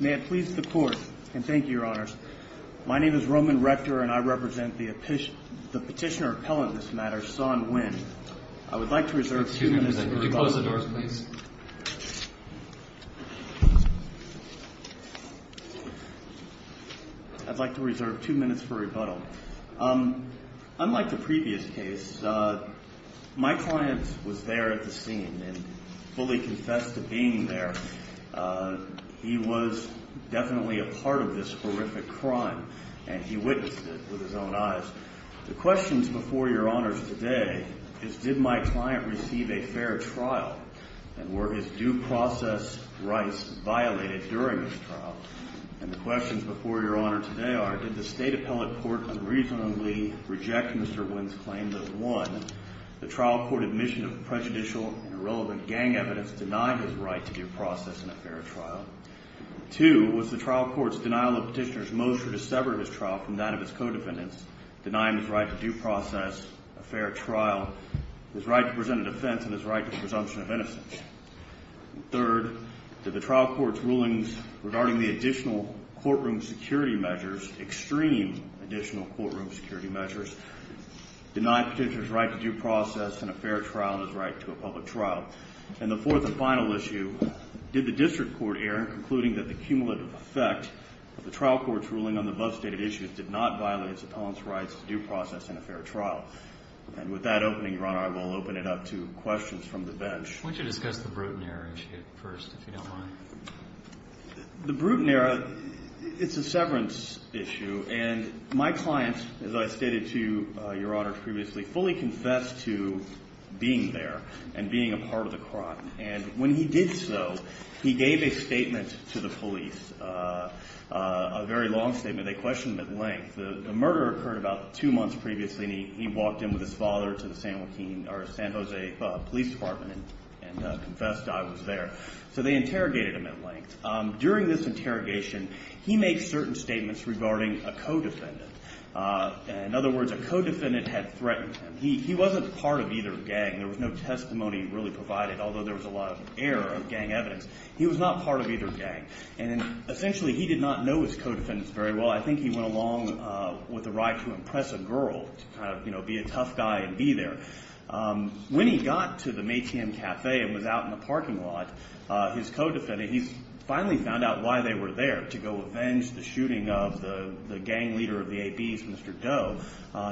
May it please the Court, and thank you, Your Honors. My name is Roman Rector, and I represent the Petitioner-Appellant in this matter, Son Nguyen. I would like to reserve two minutes for rebuttal. Would you close the doors, please? I'd like to reserve two minutes for rebuttal. Unlike the previous case, my client was there at the scene and fully confessed to being there. He was definitely a part of this horrific crime, and he witnessed it with his own eyes. The questions before Your Honors today is, did my client receive a fair trial, and were his due process rights violated during his trial? And the questions before Your Honor today are, did the State Appellate Court unreasonably reject Mr. Nguyen's claim that, one, the trial court admission of prejudicial and irrelevant gang evidence denied his right to due process in a fair trial? Two, was the trial court's denial of Petitioner's motion to sever his trial from that of his co-defendants denying his right to due process, a fair trial, his right to present a defense, and his right to the presumption of innocence? And third, did the trial court's rulings regarding the additional courtroom security measures, extreme additional courtroom security measures, deny Petitioner's right to due process in a fair trial and his right to a public trial? And the fourth and final issue, did the district court err in concluding that the cumulative effect of the trial court's ruling on the above-stated issues did not violate its appellant's rights to due process in a fair trial? And with that opening, Your Honor, I will open it up to questions from the bench. Why don't you discuss the Bruton error issue first, if you don't mind? The Bruton error, it's a severance issue. And my client, as I stated to Your Honor previously, fully confessed to being there and being a part of the crime. And when he did so, he gave a statement to the police, a very long statement. They questioned him at length. The murder occurred about two months previously, and he walked in with his father to the San Jose Police Department and confessed I was there. So they interrogated him at length. During this interrogation, he made certain statements regarding a co-defendant. In other words, a co-defendant had threatened him. He wasn't part of either gang. There was no testimony really provided, although there was a lot of error of gang evidence. He was not part of either gang. And essentially, he did not know his co-defendants very well. I think he went along with the right to impress a girl, to kind of, you know, be a tough guy and be there. When he got to the Maytian Cafe and was out in the parking lot, his co-defendant, he finally found out why they were there, to go avenge the shooting of the gang leader of the ABs, Mr. Doe.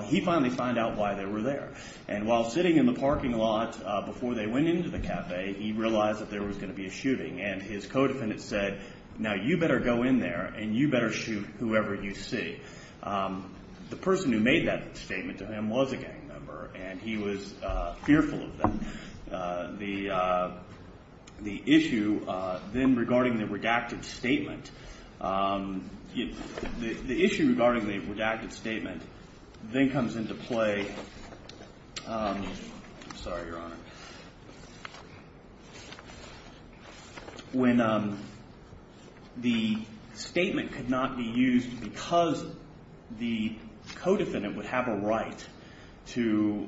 He finally found out why they were there. And while sitting in the parking lot before they went into the cafe, he realized that there was going to be a shooting. And his co-defendant said, now you better go in there and you better shoot whoever you see. The person who made that statement to him was a gang member, and he was fearful of them. The issue then regarding the redacted statement, the issue regarding the redacted statement then comes into play. I'm sorry, Your Honor. When the statement could not be used because the co-defendant would have a right to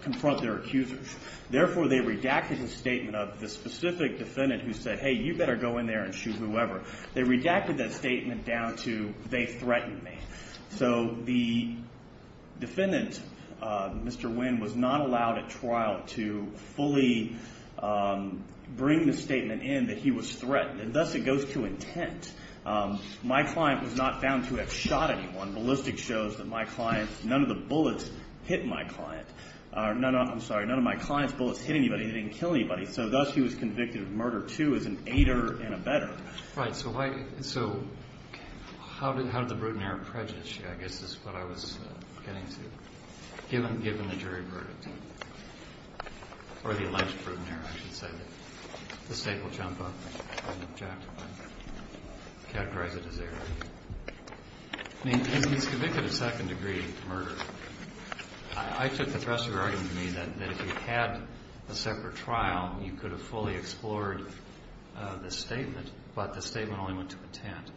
confront their accusers, therefore they redacted the statement of the specific defendant who said, hey, you better go in there and shoot whoever. They redacted that statement down to, they threatened me. So the defendant, Mr. Nguyen, was not allowed at trial to fully bring the statement in that he was threatened. And thus it goes to intent. My client was not found to have shot anyone. Ballistics shows that my client, none of the bullets hit my client. I'm sorry, none of my client's bullets hit anybody. They didn't kill anybody. So thus he was convicted of murder two as an aider and a better. Right. So how did the brutineer prejudice you? I guess this is what I was getting to. Given the jury verdict, or the alleged brutineer, I should say, the state will jump up and objectify, categorize it as error. I mean, he's convicted of second-degree murder. I took the Thresher argument to mean that if he had a separate trial, you could have fully explored the statement. But the statement only went to intent.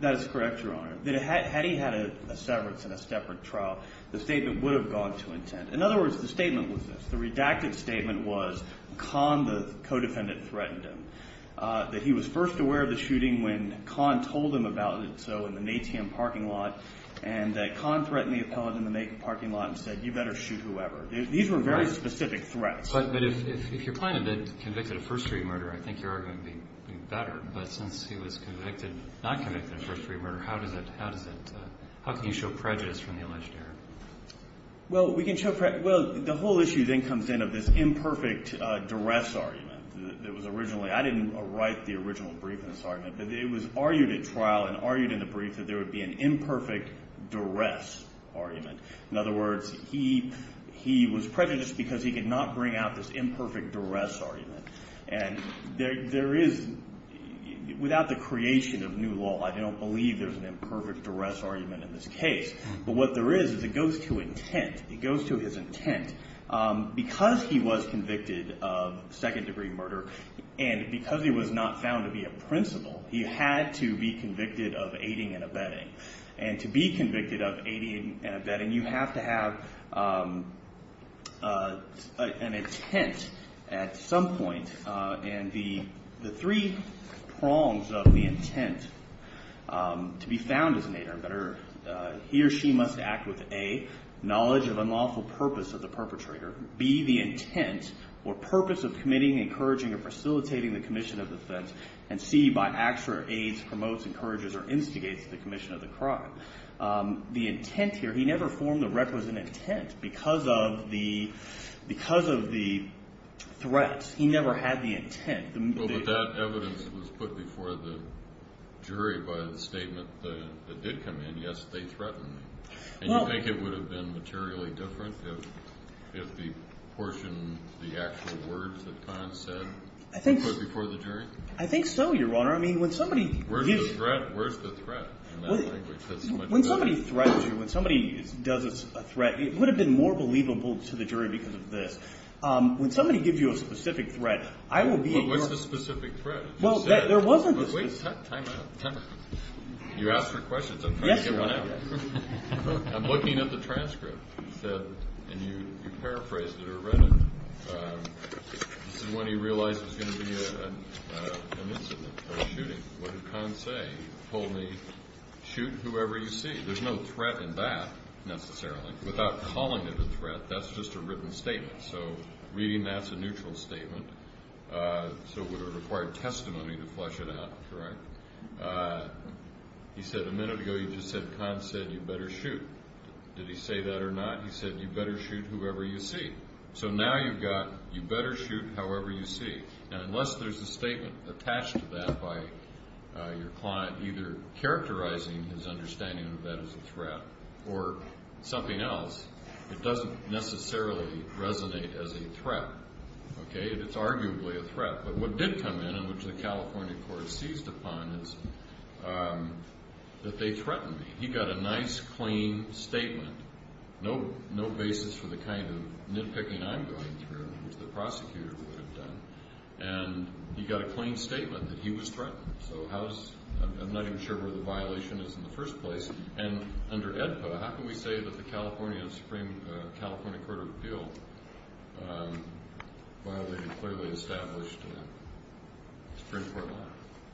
That is correct, Your Honor. Had he had a severance and a separate trial, the statement would have gone to intent. In other words, the statement was this. The redacted statement was Khan, the co-defendant, threatened him. That he was first aware of the shooting when Khan told him about it. So in an ATM parking lot. And Khan threatened the appellate in the parking lot and said, you better shoot whoever. These were very specific threats. But if your client had been convicted of first-degree murder, I think your argument would be better. But since he was convicted, not convicted of first-degree murder, how can you show prejudice from the alleged error? Well, we can show prejudice. Well, the whole issue then comes in of this imperfect duress argument. It was originally – I didn't write the original brief in this argument. But it was argued at trial and argued in the brief that there would be an imperfect duress argument. In other words, he was prejudiced because he could not bring out this imperfect duress argument. And there is – without the creation of new law, I don't believe there's an imperfect duress argument in this case. But what there is is it goes to intent. It goes to his intent. Because he was convicted of second-degree murder and because he was not found to be a principal, he had to be convicted of aiding and abetting. And to be convicted of aiding and abetting, you have to have an intent at some point. And the three prongs of the intent to be found as an aid or abetter, he or she must act with, A, knowledge of unlawful purpose of the perpetrator, B, the intent or purpose of committing, encouraging, or facilitating the commission of offense, and C, by acts or aids, promotes, encourages, or instigates the commission of the crime. The intent here – he never formed the requisite intent because of the threat. He never had the intent. Well, but that evidence was put before the jury by the statement that did come in. Yes, they threatened him. And you think it would have been materially different if the portion – the actual words that Conn said were put before the jury? I think so, Your Honor. I mean, when somebody – Where's the threat? When somebody threatens you, when somebody does a threat, it would have been more believable to the jury because of this. When somebody gives you a specific threat, I will be – Well, what's the specific threat? Well, there was a – Wait, time out. You asked for questions. I'm trying to get one out. Yes, Your Honor. I'm looking at the transcript. You said – and you paraphrased it or read it. This is when he realized it was going to be an incident, a shooting. What did Conn say? He told me, shoot whoever you see. There's no threat in that, necessarily. Without calling it a threat, that's just a written statement. So reading that's a neutral statement. So it would have required testimony to flesh it out, correct? He said a minute ago he just said Conn said you better shoot. Did he say that or not? He said you better shoot whoever you see. So now you've got you better shoot however you see. And unless there's a statement attached to that by your client either characterizing his understanding of that as a threat or something else, it doesn't necessarily resonate as a threat. It's arguably a threat. But what did come in, and which the California court seized upon, is that they threatened me. He got a nice, clean statement. No basis for the kind of nitpicking I'm going through, which the prosecutor would have done. And he got a clean statement that he was threatened. So I'm not even sure where the violation is in the first place. And under AEDPA, how can we say that the California Supreme Court of Appeal violated a clearly established Supreme Court law?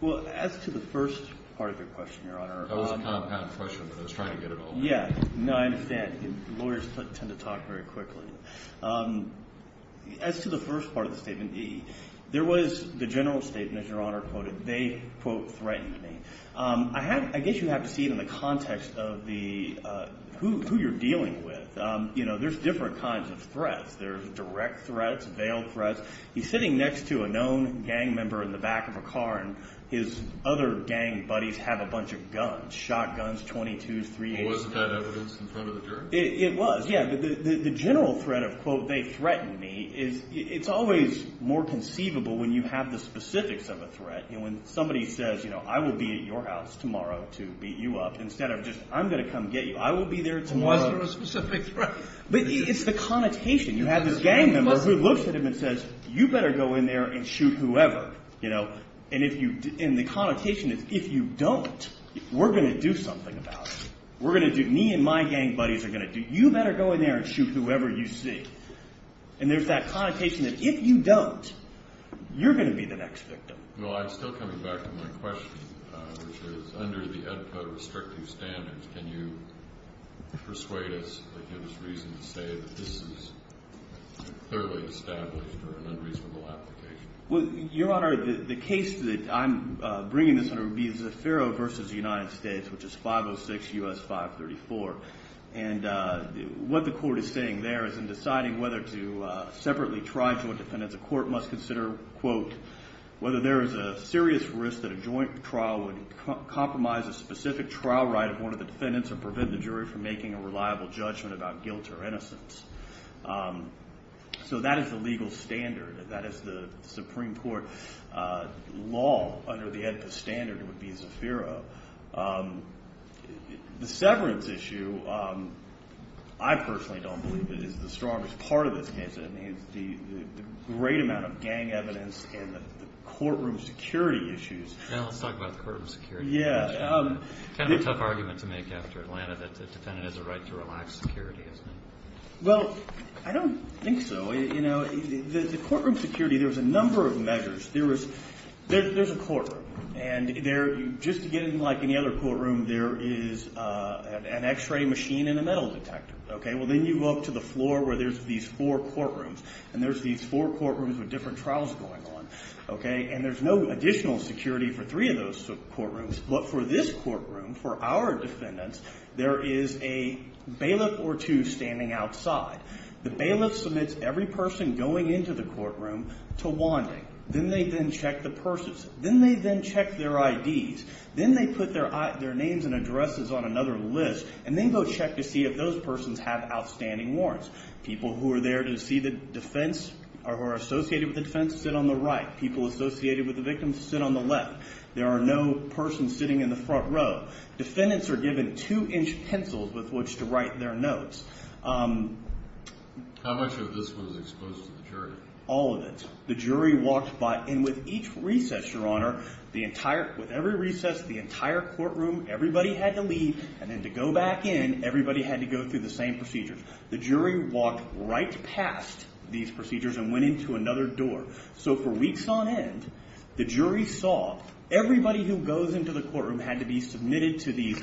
Well, as to the first part of your question, Your Honor. That was a compound question, but I was trying to get it all right. Yeah. No, I understand. Lawyers tend to talk very quickly. As to the first part of the statement, there was the general statement, as Your Honor quoted, they, quote, threatened me. I guess you have to see it in the context of who you're dealing with. You know, there's different kinds of threats. There's direct threats, veiled threats. He's sitting next to a known gang member in the back of a car, and his other gang buddies have a bunch of guns, shotguns, .22s, .38s. Was that evidence in front of the jury? It was, yeah. But the general threat of, quote, they threatened me is it's always more conceivable when you have the specifics of a threat. You know, when somebody says, you know, I will be at your house tomorrow to beat you up instead of just I'm going to come get you. I will be there tomorrow. And was there a specific threat? But it's the connotation. You have this gang member who looks at him and says, you better go in there and shoot whoever. And the connotation is if you don't, we're going to do something about it. We're going to do, me and my gang buddies are going to do, you better go in there and shoot whoever you see. And there's that connotation that if you don't, you're going to be the next victim. Well, I'm still coming back to my question, which is under the Ed Code restrictive standards, can you persuade us that there's reason to say that this is a fairly established or an unreasonable application? Well, Your Honor, the case that I'm bringing this under would be Zaffero v. United States, which is 506 U.S. 534. And what the court is saying there is in deciding whether to separately try joint defendants, the court must consider, quote, whether there is a serious risk that a joint trial would compromise a specific trial right of one of the defendants or prevent the jury from making a reliable judgment about guilt or innocence. So that is the legal standard. That is the Supreme Court law under the Ed Code standard would be Zaffero. The severance issue, I personally don't believe it is the strongest part of this case. I mean, the great amount of gang evidence and the courtroom security issues. Now let's talk about the courtroom security. Yeah. Kind of a tough argument to make after Atlanta that the defendant has a right to relax security, isn't it? Well, I don't think so. You know, the courtroom security, there's a number of measures. There's a courtroom. And just to get in like any other courtroom, there is an X-ray machine and a metal detector. Okay, well, then you go up to the floor where there's these four courtrooms. And there's these four courtrooms with different trials going on. Okay, and there's no additional security for three of those courtrooms. But for this courtroom, for our defendants, there is a bailiff or two standing outside. The bailiff submits every person going into the courtroom to wanting. Then they then check the purses. Then they then check their IDs. Then they put their names and addresses on another list and then go check to see if those persons have outstanding warrants. People who are there to see the defense or who are associated with the defense sit on the right. People associated with the victim sit on the left. There are no persons sitting in the front row. Defendants are given two-inch pencils with which to write their notes. How much of this was exposed to the jury? All of it. The jury walked by. And with each recess, Your Honor, with every recess, the entire courtroom, everybody had to leave. And then to go back in, everybody had to go through the same procedures. The jury walked right past these procedures and went into another door. So for weeks on end, the jury saw everybody who goes into the courtroom had to be submitted to these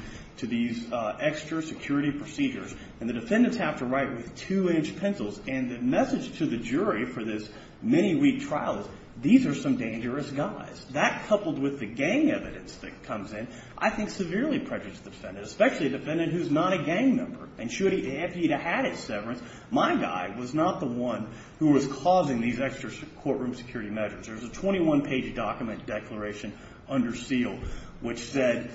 extra security procedures. And the defendants have to write with two-inch pencils. And the message to the jury for this many-week trial is these are some dangerous guys. That, coupled with the gang evidence that comes in, I think severely prejudice the defendant, especially a defendant who is not a gang member. And should he have had a severance, my guy was not the one who was causing these extra courtroom security measures. There's a 21-page document declaration under seal which said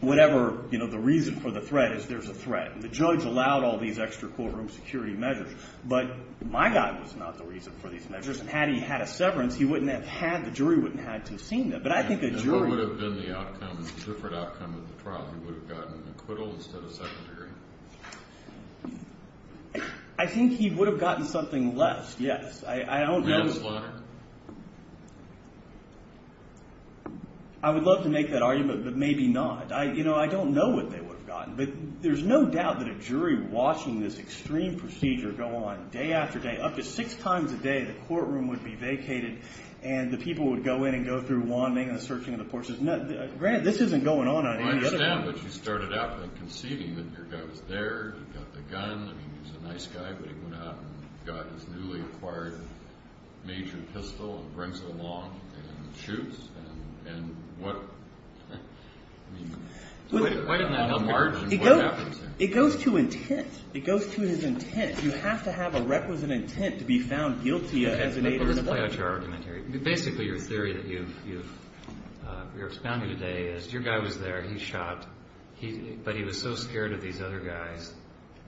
whatever, you know, the reason for the threat is there's a threat. And the judge allowed all these extra courtroom security measures. But my guy was not the reason for these measures. And had he had a severance, he wouldn't have had the jury wouldn't have had to have seen them. But I think a jury— I think he would have gotten something less, yes. I don't know. A manslaughter? I would love to make that argument, but maybe not. You know, I don't know what they would have gotten. But there's no doubt that a jury watching this extreme procedure go on day after day. Up to six times a day, the courtroom would be vacated, and the people would go in and go through wanting and searching of the portions. Granted, this isn't going on any other way. I understand, but you started out conceding that your guy was there. He got the gun. I mean, he's a nice guy, but he went out and got his newly acquired major pistol and brings it along and shoots. And what—I mean, what in the hell margin? It goes to intent. It goes to his intent. You have to have a requisite intent to be found guilty of— Let me play out your argument here. Basically, your theory that you're expounding today is your guy was there. He shot, but he was so scared of these other guys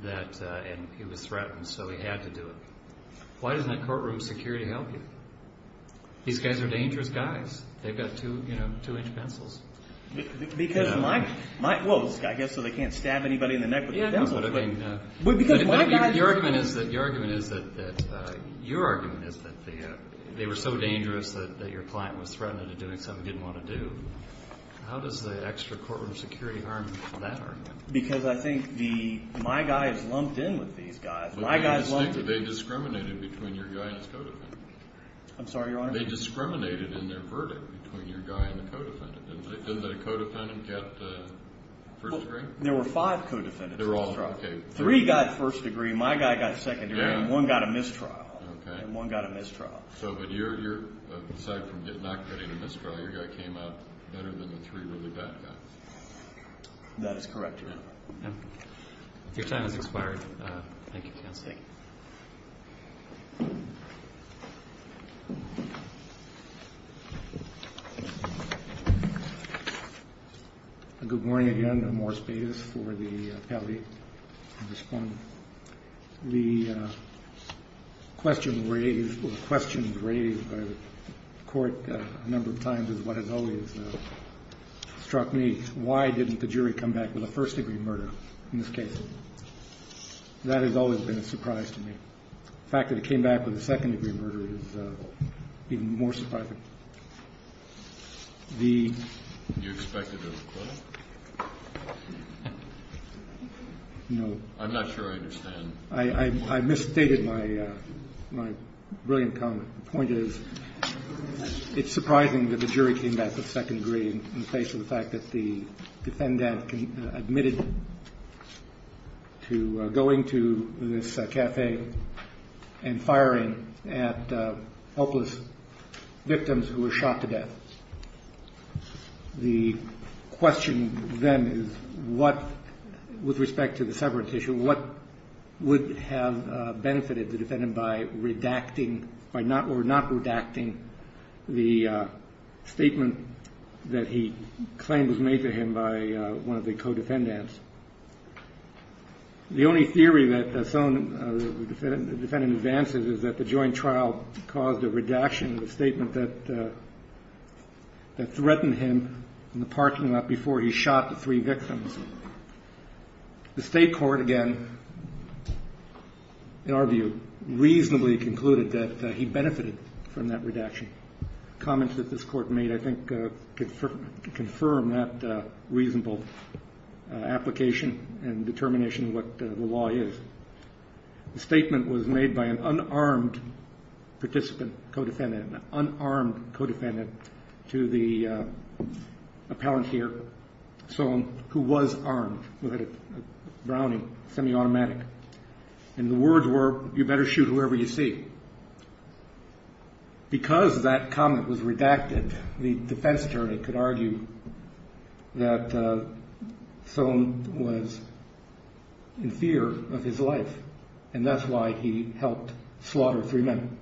that—and he was threatened, so he had to do it. Why doesn't that courtroom security help you? These guys are dangerous guys. They've got two-inch pencils. Because my—well, I guess so they can't stab anybody in the neck with the pencil. Your argument is that—your argument is that they were so dangerous that your client was threatened and doing something he didn't want to do. How does the extra courtroom security harm that argument? Because I think the—my guys lumped in with these guys. My guys lumped in— They discriminated between your guy and his co-defendant. I'm sorry, Your Honor? They discriminated in their verdict between your guy and the co-defendant. Didn't the co-defendant get first degree? There were five co-defendants. They were all—okay. Three got first degree. My guy got second degree, and one got a mistrial. Okay. And one got a mistrial. So, but your—aside from not getting a mistrial, your guy came out better than the three really bad guys. That is correct, Your Honor. Your time has expired. Thank you, counsel. Thank you. Good morning again. I'm Morris Bates for the appellate and respondent. The question raised—or the questions raised by the court a number of times is what has always struck me. Why didn't the jury come back with a first degree murder in this case? That has always been a surprise to me. The fact that it came back with a second degree murder is even more surprising. The— You expected a request? No. I'm not sure I understand. I misstated my brilliant comment. The point is it's surprising that the jury came back with second degree in the face of the fact that the defendant admitted to going to this café and firing at hopeless victims who were shot to death. The question then is what—with respect to the severance issue, what would have benefited the defendant by redacting, by not—or not redacting the statement that he claimed was made to him by one of the co-defendants? The only theory that some—the defendant advances is that the joint trial caused a redaction of the statement that threatened him in the parking lot before he shot the three victims. The state court, again, in our view, reasonably concluded that he benefited from that redaction. Comments that this court made, I think, confirm that reasonable application and determination of what the law is. The statement was made by an unarmed participant co-defendant, an unarmed co-defendant, to the appellant here, Sohn, who was armed, who had a Browning semi-automatic. And the words were, you better shoot whoever you see. Because that comment was redacted, the defense attorney could argue that Sohn was in fear of his life, and that's why he helped slaughter three men.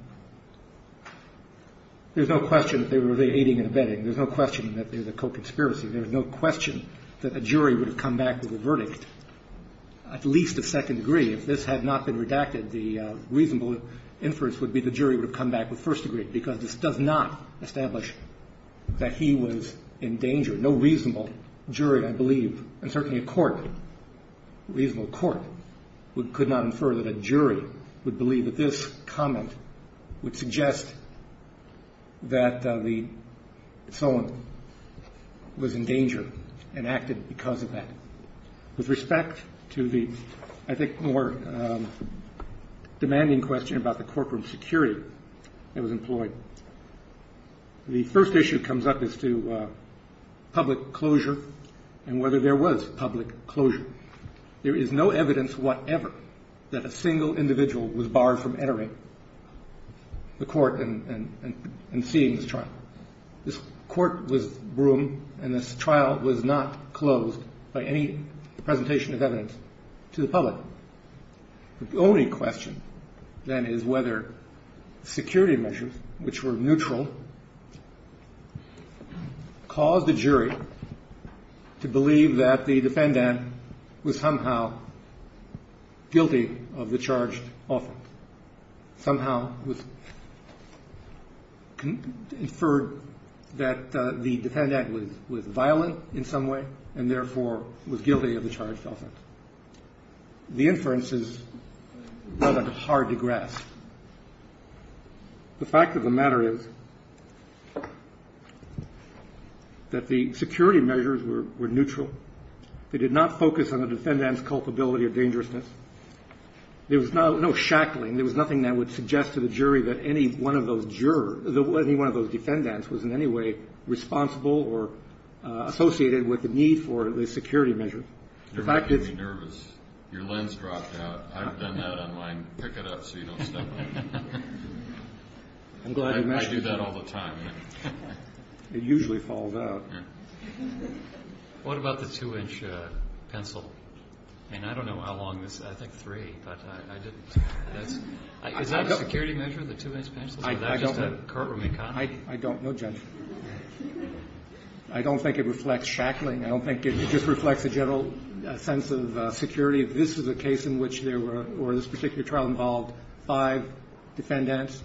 There's no question that they were aiding and abetting. There's no question that there's a co-conspiracy. There's no question that a jury would have come back with a verdict, at least a second degree. If this had not been redacted, the reasonable inference would be the jury would have come back with first degree, because this does not establish that he was in danger. No reasonable jury, I believe, and certainly a court, a reasonable court, could not infer that a jury would believe that this comment would suggest that Sohn was in danger and acted because of that. With respect to the, I think, more demanding question about the courtroom security that was employed, the first issue that comes up is to public closure and whether there was public closure. There is no evidence whatever that a single individual was barred from entering the court and seeing this trial. This court was Broome, and this trial was not closed by any presentation of evidence to the public. The only question, then, is whether security measures, which were neutral, caused the jury to believe that the defendant was somehow guilty of the charged offense, somehow was inferred that the defendant was violent in some way and, therefore, was guilty of the charged offense. The fact of the matter is that the security measures were neutral. They did not focus on the defendant's culpability of dangerousness. There was no shackling. There was nothing that would suggest to the jury that any one of those jurors, that any one of those defendants was in any way responsible or associated with the need for the security measures. The fact is you're making me nervous. Your lens dropped out. I've done that on mine. Pick it up so you don't step on it. I do that all the time. It usually falls out. What about the 2-inch pencil? And I don't know how long this is. I think 3, but I didn't. Is that a security measure, the 2-inch pencil? Or is that just a courtroom economy? I don't know, Judge. I don't think it reflects shackling. I don't think it just reflects a general sense of security. This is a case in which there were, or this particular trial involved five defendants,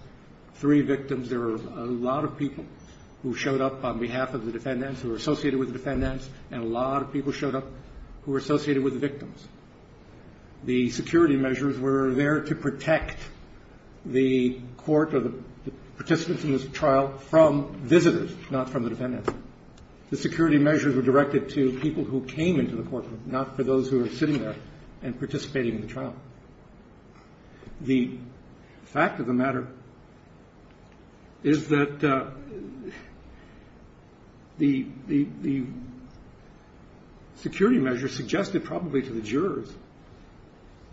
three victims. There were a lot of people who showed up on behalf of the defendants, who were associated with the defendants, and a lot of people showed up who were associated with the victims. The security measures were there to protect the court or the participants in this trial from visitors, not from the defendants. The security measures were directed to people who came into the courtroom, not for those who were sitting there and participating in the trial. The fact of the matter is that the security measures suggested probably to the jurors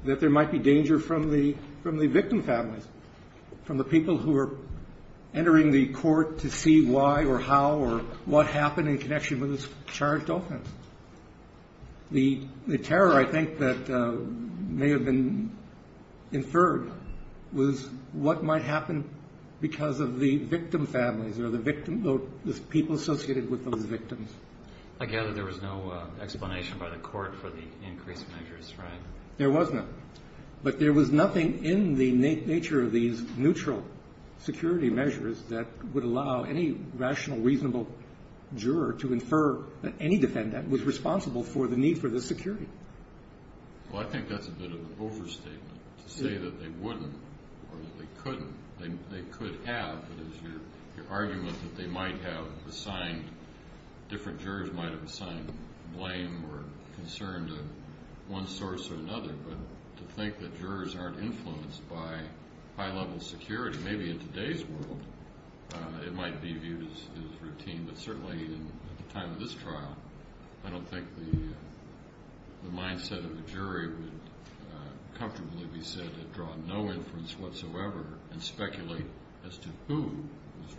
that there might be danger from the victim families, from the people who were entering the court to see why or how or what happened in connection with this charged offense. The terror, I think, that may have been inferred was what might happen because of the victim families or the people associated with those victims. I gather there was no explanation by the court for the increased measures, right? There was not. But there was nothing in the nature of these neutral security measures that would allow any rational, reasonable juror to infer that any defendant was responsible for the need for this security. Well, I think that's a bit of an overstatement to say that they wouldn't or that they couldn't. They could have. It is your argument that they might have assigned, different jurors might have assigned blame or concern to one source or another. But to think that jurors aren't influenced by high-level security, maybe in today's world it might be viewed as routine. But certainly at the time of this trial, I don't think the mindset of the jury would comfortably be said to draw no inference whatsoever and speculate as to who is responsible.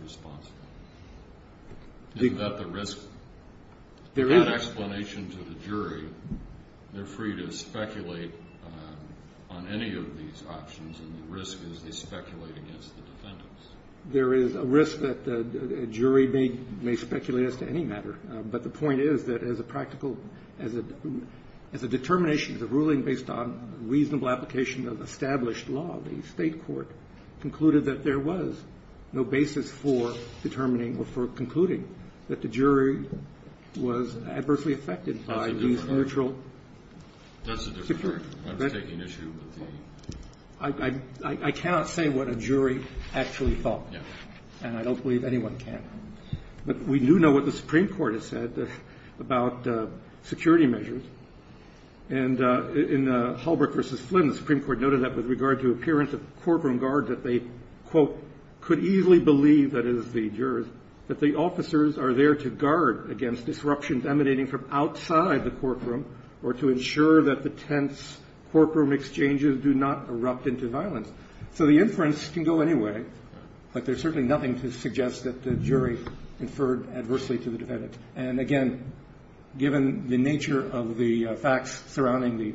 Isn't that the risk? There is. Without explanation to the jury, they're free to speculate on any of these options. And the risk is they speculate against the defendants. There is a risk that a jury may speculate as to any matter. But the point is that as a practical, as a determination, as a ruling based on reasonable application of established law, the State court concluded that there was no basis for determining or for concluding that the jury was adversely affected by these neutral. That's a different issue. I cannot say what a jury actually thought. And I don't believe anyone can. But we do know what the Supreme Court has said about security measures. And in Holbrook v. Flynn, the Supreme Court noted that with regard to appearance of the courtroom guard that they, quote, could easily believe, that is the jurors, that the officers are there to guard against disruptions emanating from outside the courtroom or to ensure that the tense courtroom exchanges do not erupt into violence. So the inference can go any way, but there's certainly nothing to suggest that the jury inferred adversely to the defendants. And, again, given the nature of the facts surrounding the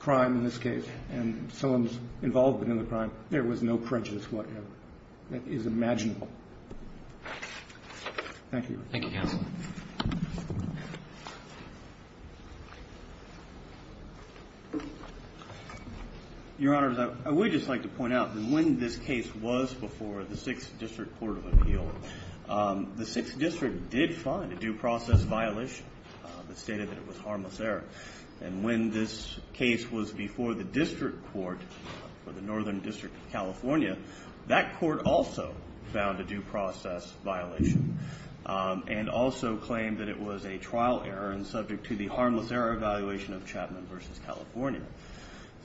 crime in this case and someone's involvement in the crime, there was no prejudice whatever. That is imaginable. Thank you. Thank you, counsel. Your Honor, I would just like to point out that when this case was before the Sixth District Court of Appeal, the Sixth District did find a due process violation that stated that it was harmless error. And when this case was before the District Court for the Northern District of California, that court also found a due process violation and also claimed that it was a trial error and subject to the harmless error evaluation of Chapman v. California.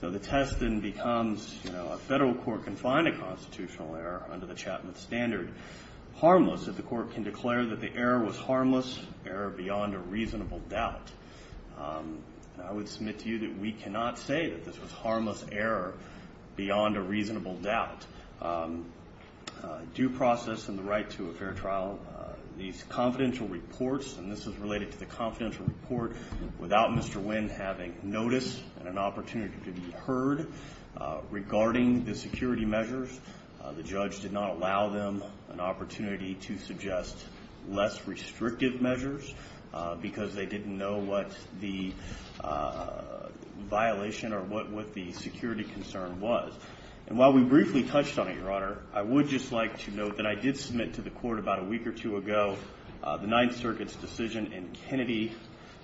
So the test then becomes, you know, a federal court can find a constitutional error under the Chapman standard harmless if the court can declare that the error was harmless error beyond a reasonable doubt. And I would submit to you that we cannot say that this was harmless error beyond a reasonable doubt. Due process and the right to a fair trial, these confidential reports, and this is related to the confidential report, without Mr. Wynn having notice and an opportunity to be heard regarding the security measures, the judge did not allow them an opportunity to suggest less restrictive measures because they didn't know what the violation or what the security concern was. And while we briefly touched on it, Your Honor, I would just like to note that I did submit to the court about a week or two ago the Ninth Circuit's decision in Kennedy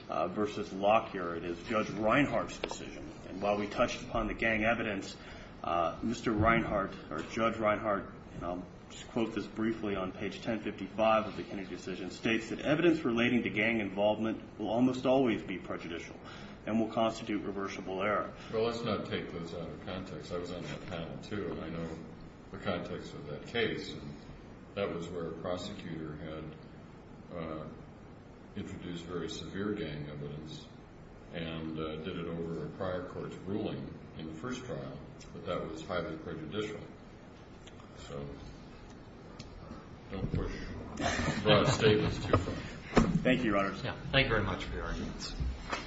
v. Locke here. It is Judge Reinhart's decision. And while we touched upon the gang evidence, Mr. Reinhart or Judge Reinhart, and I'll just quote this briefly on page 1055 of the Kennedy decision, states that evidence relating to gang involvement will almost always be prejudicial and will constitute reversible error. Well, let's not take those out of context. I was on that panel, too, and I know the context of that case. And that was where a prosecutor had introduced very severe gang evidence and did it over a prior court's ruling in the first trial, but that was highly prejudicial. So don't push broad statements too far. Thank you, Your Honor. Thank you very much for your arguments.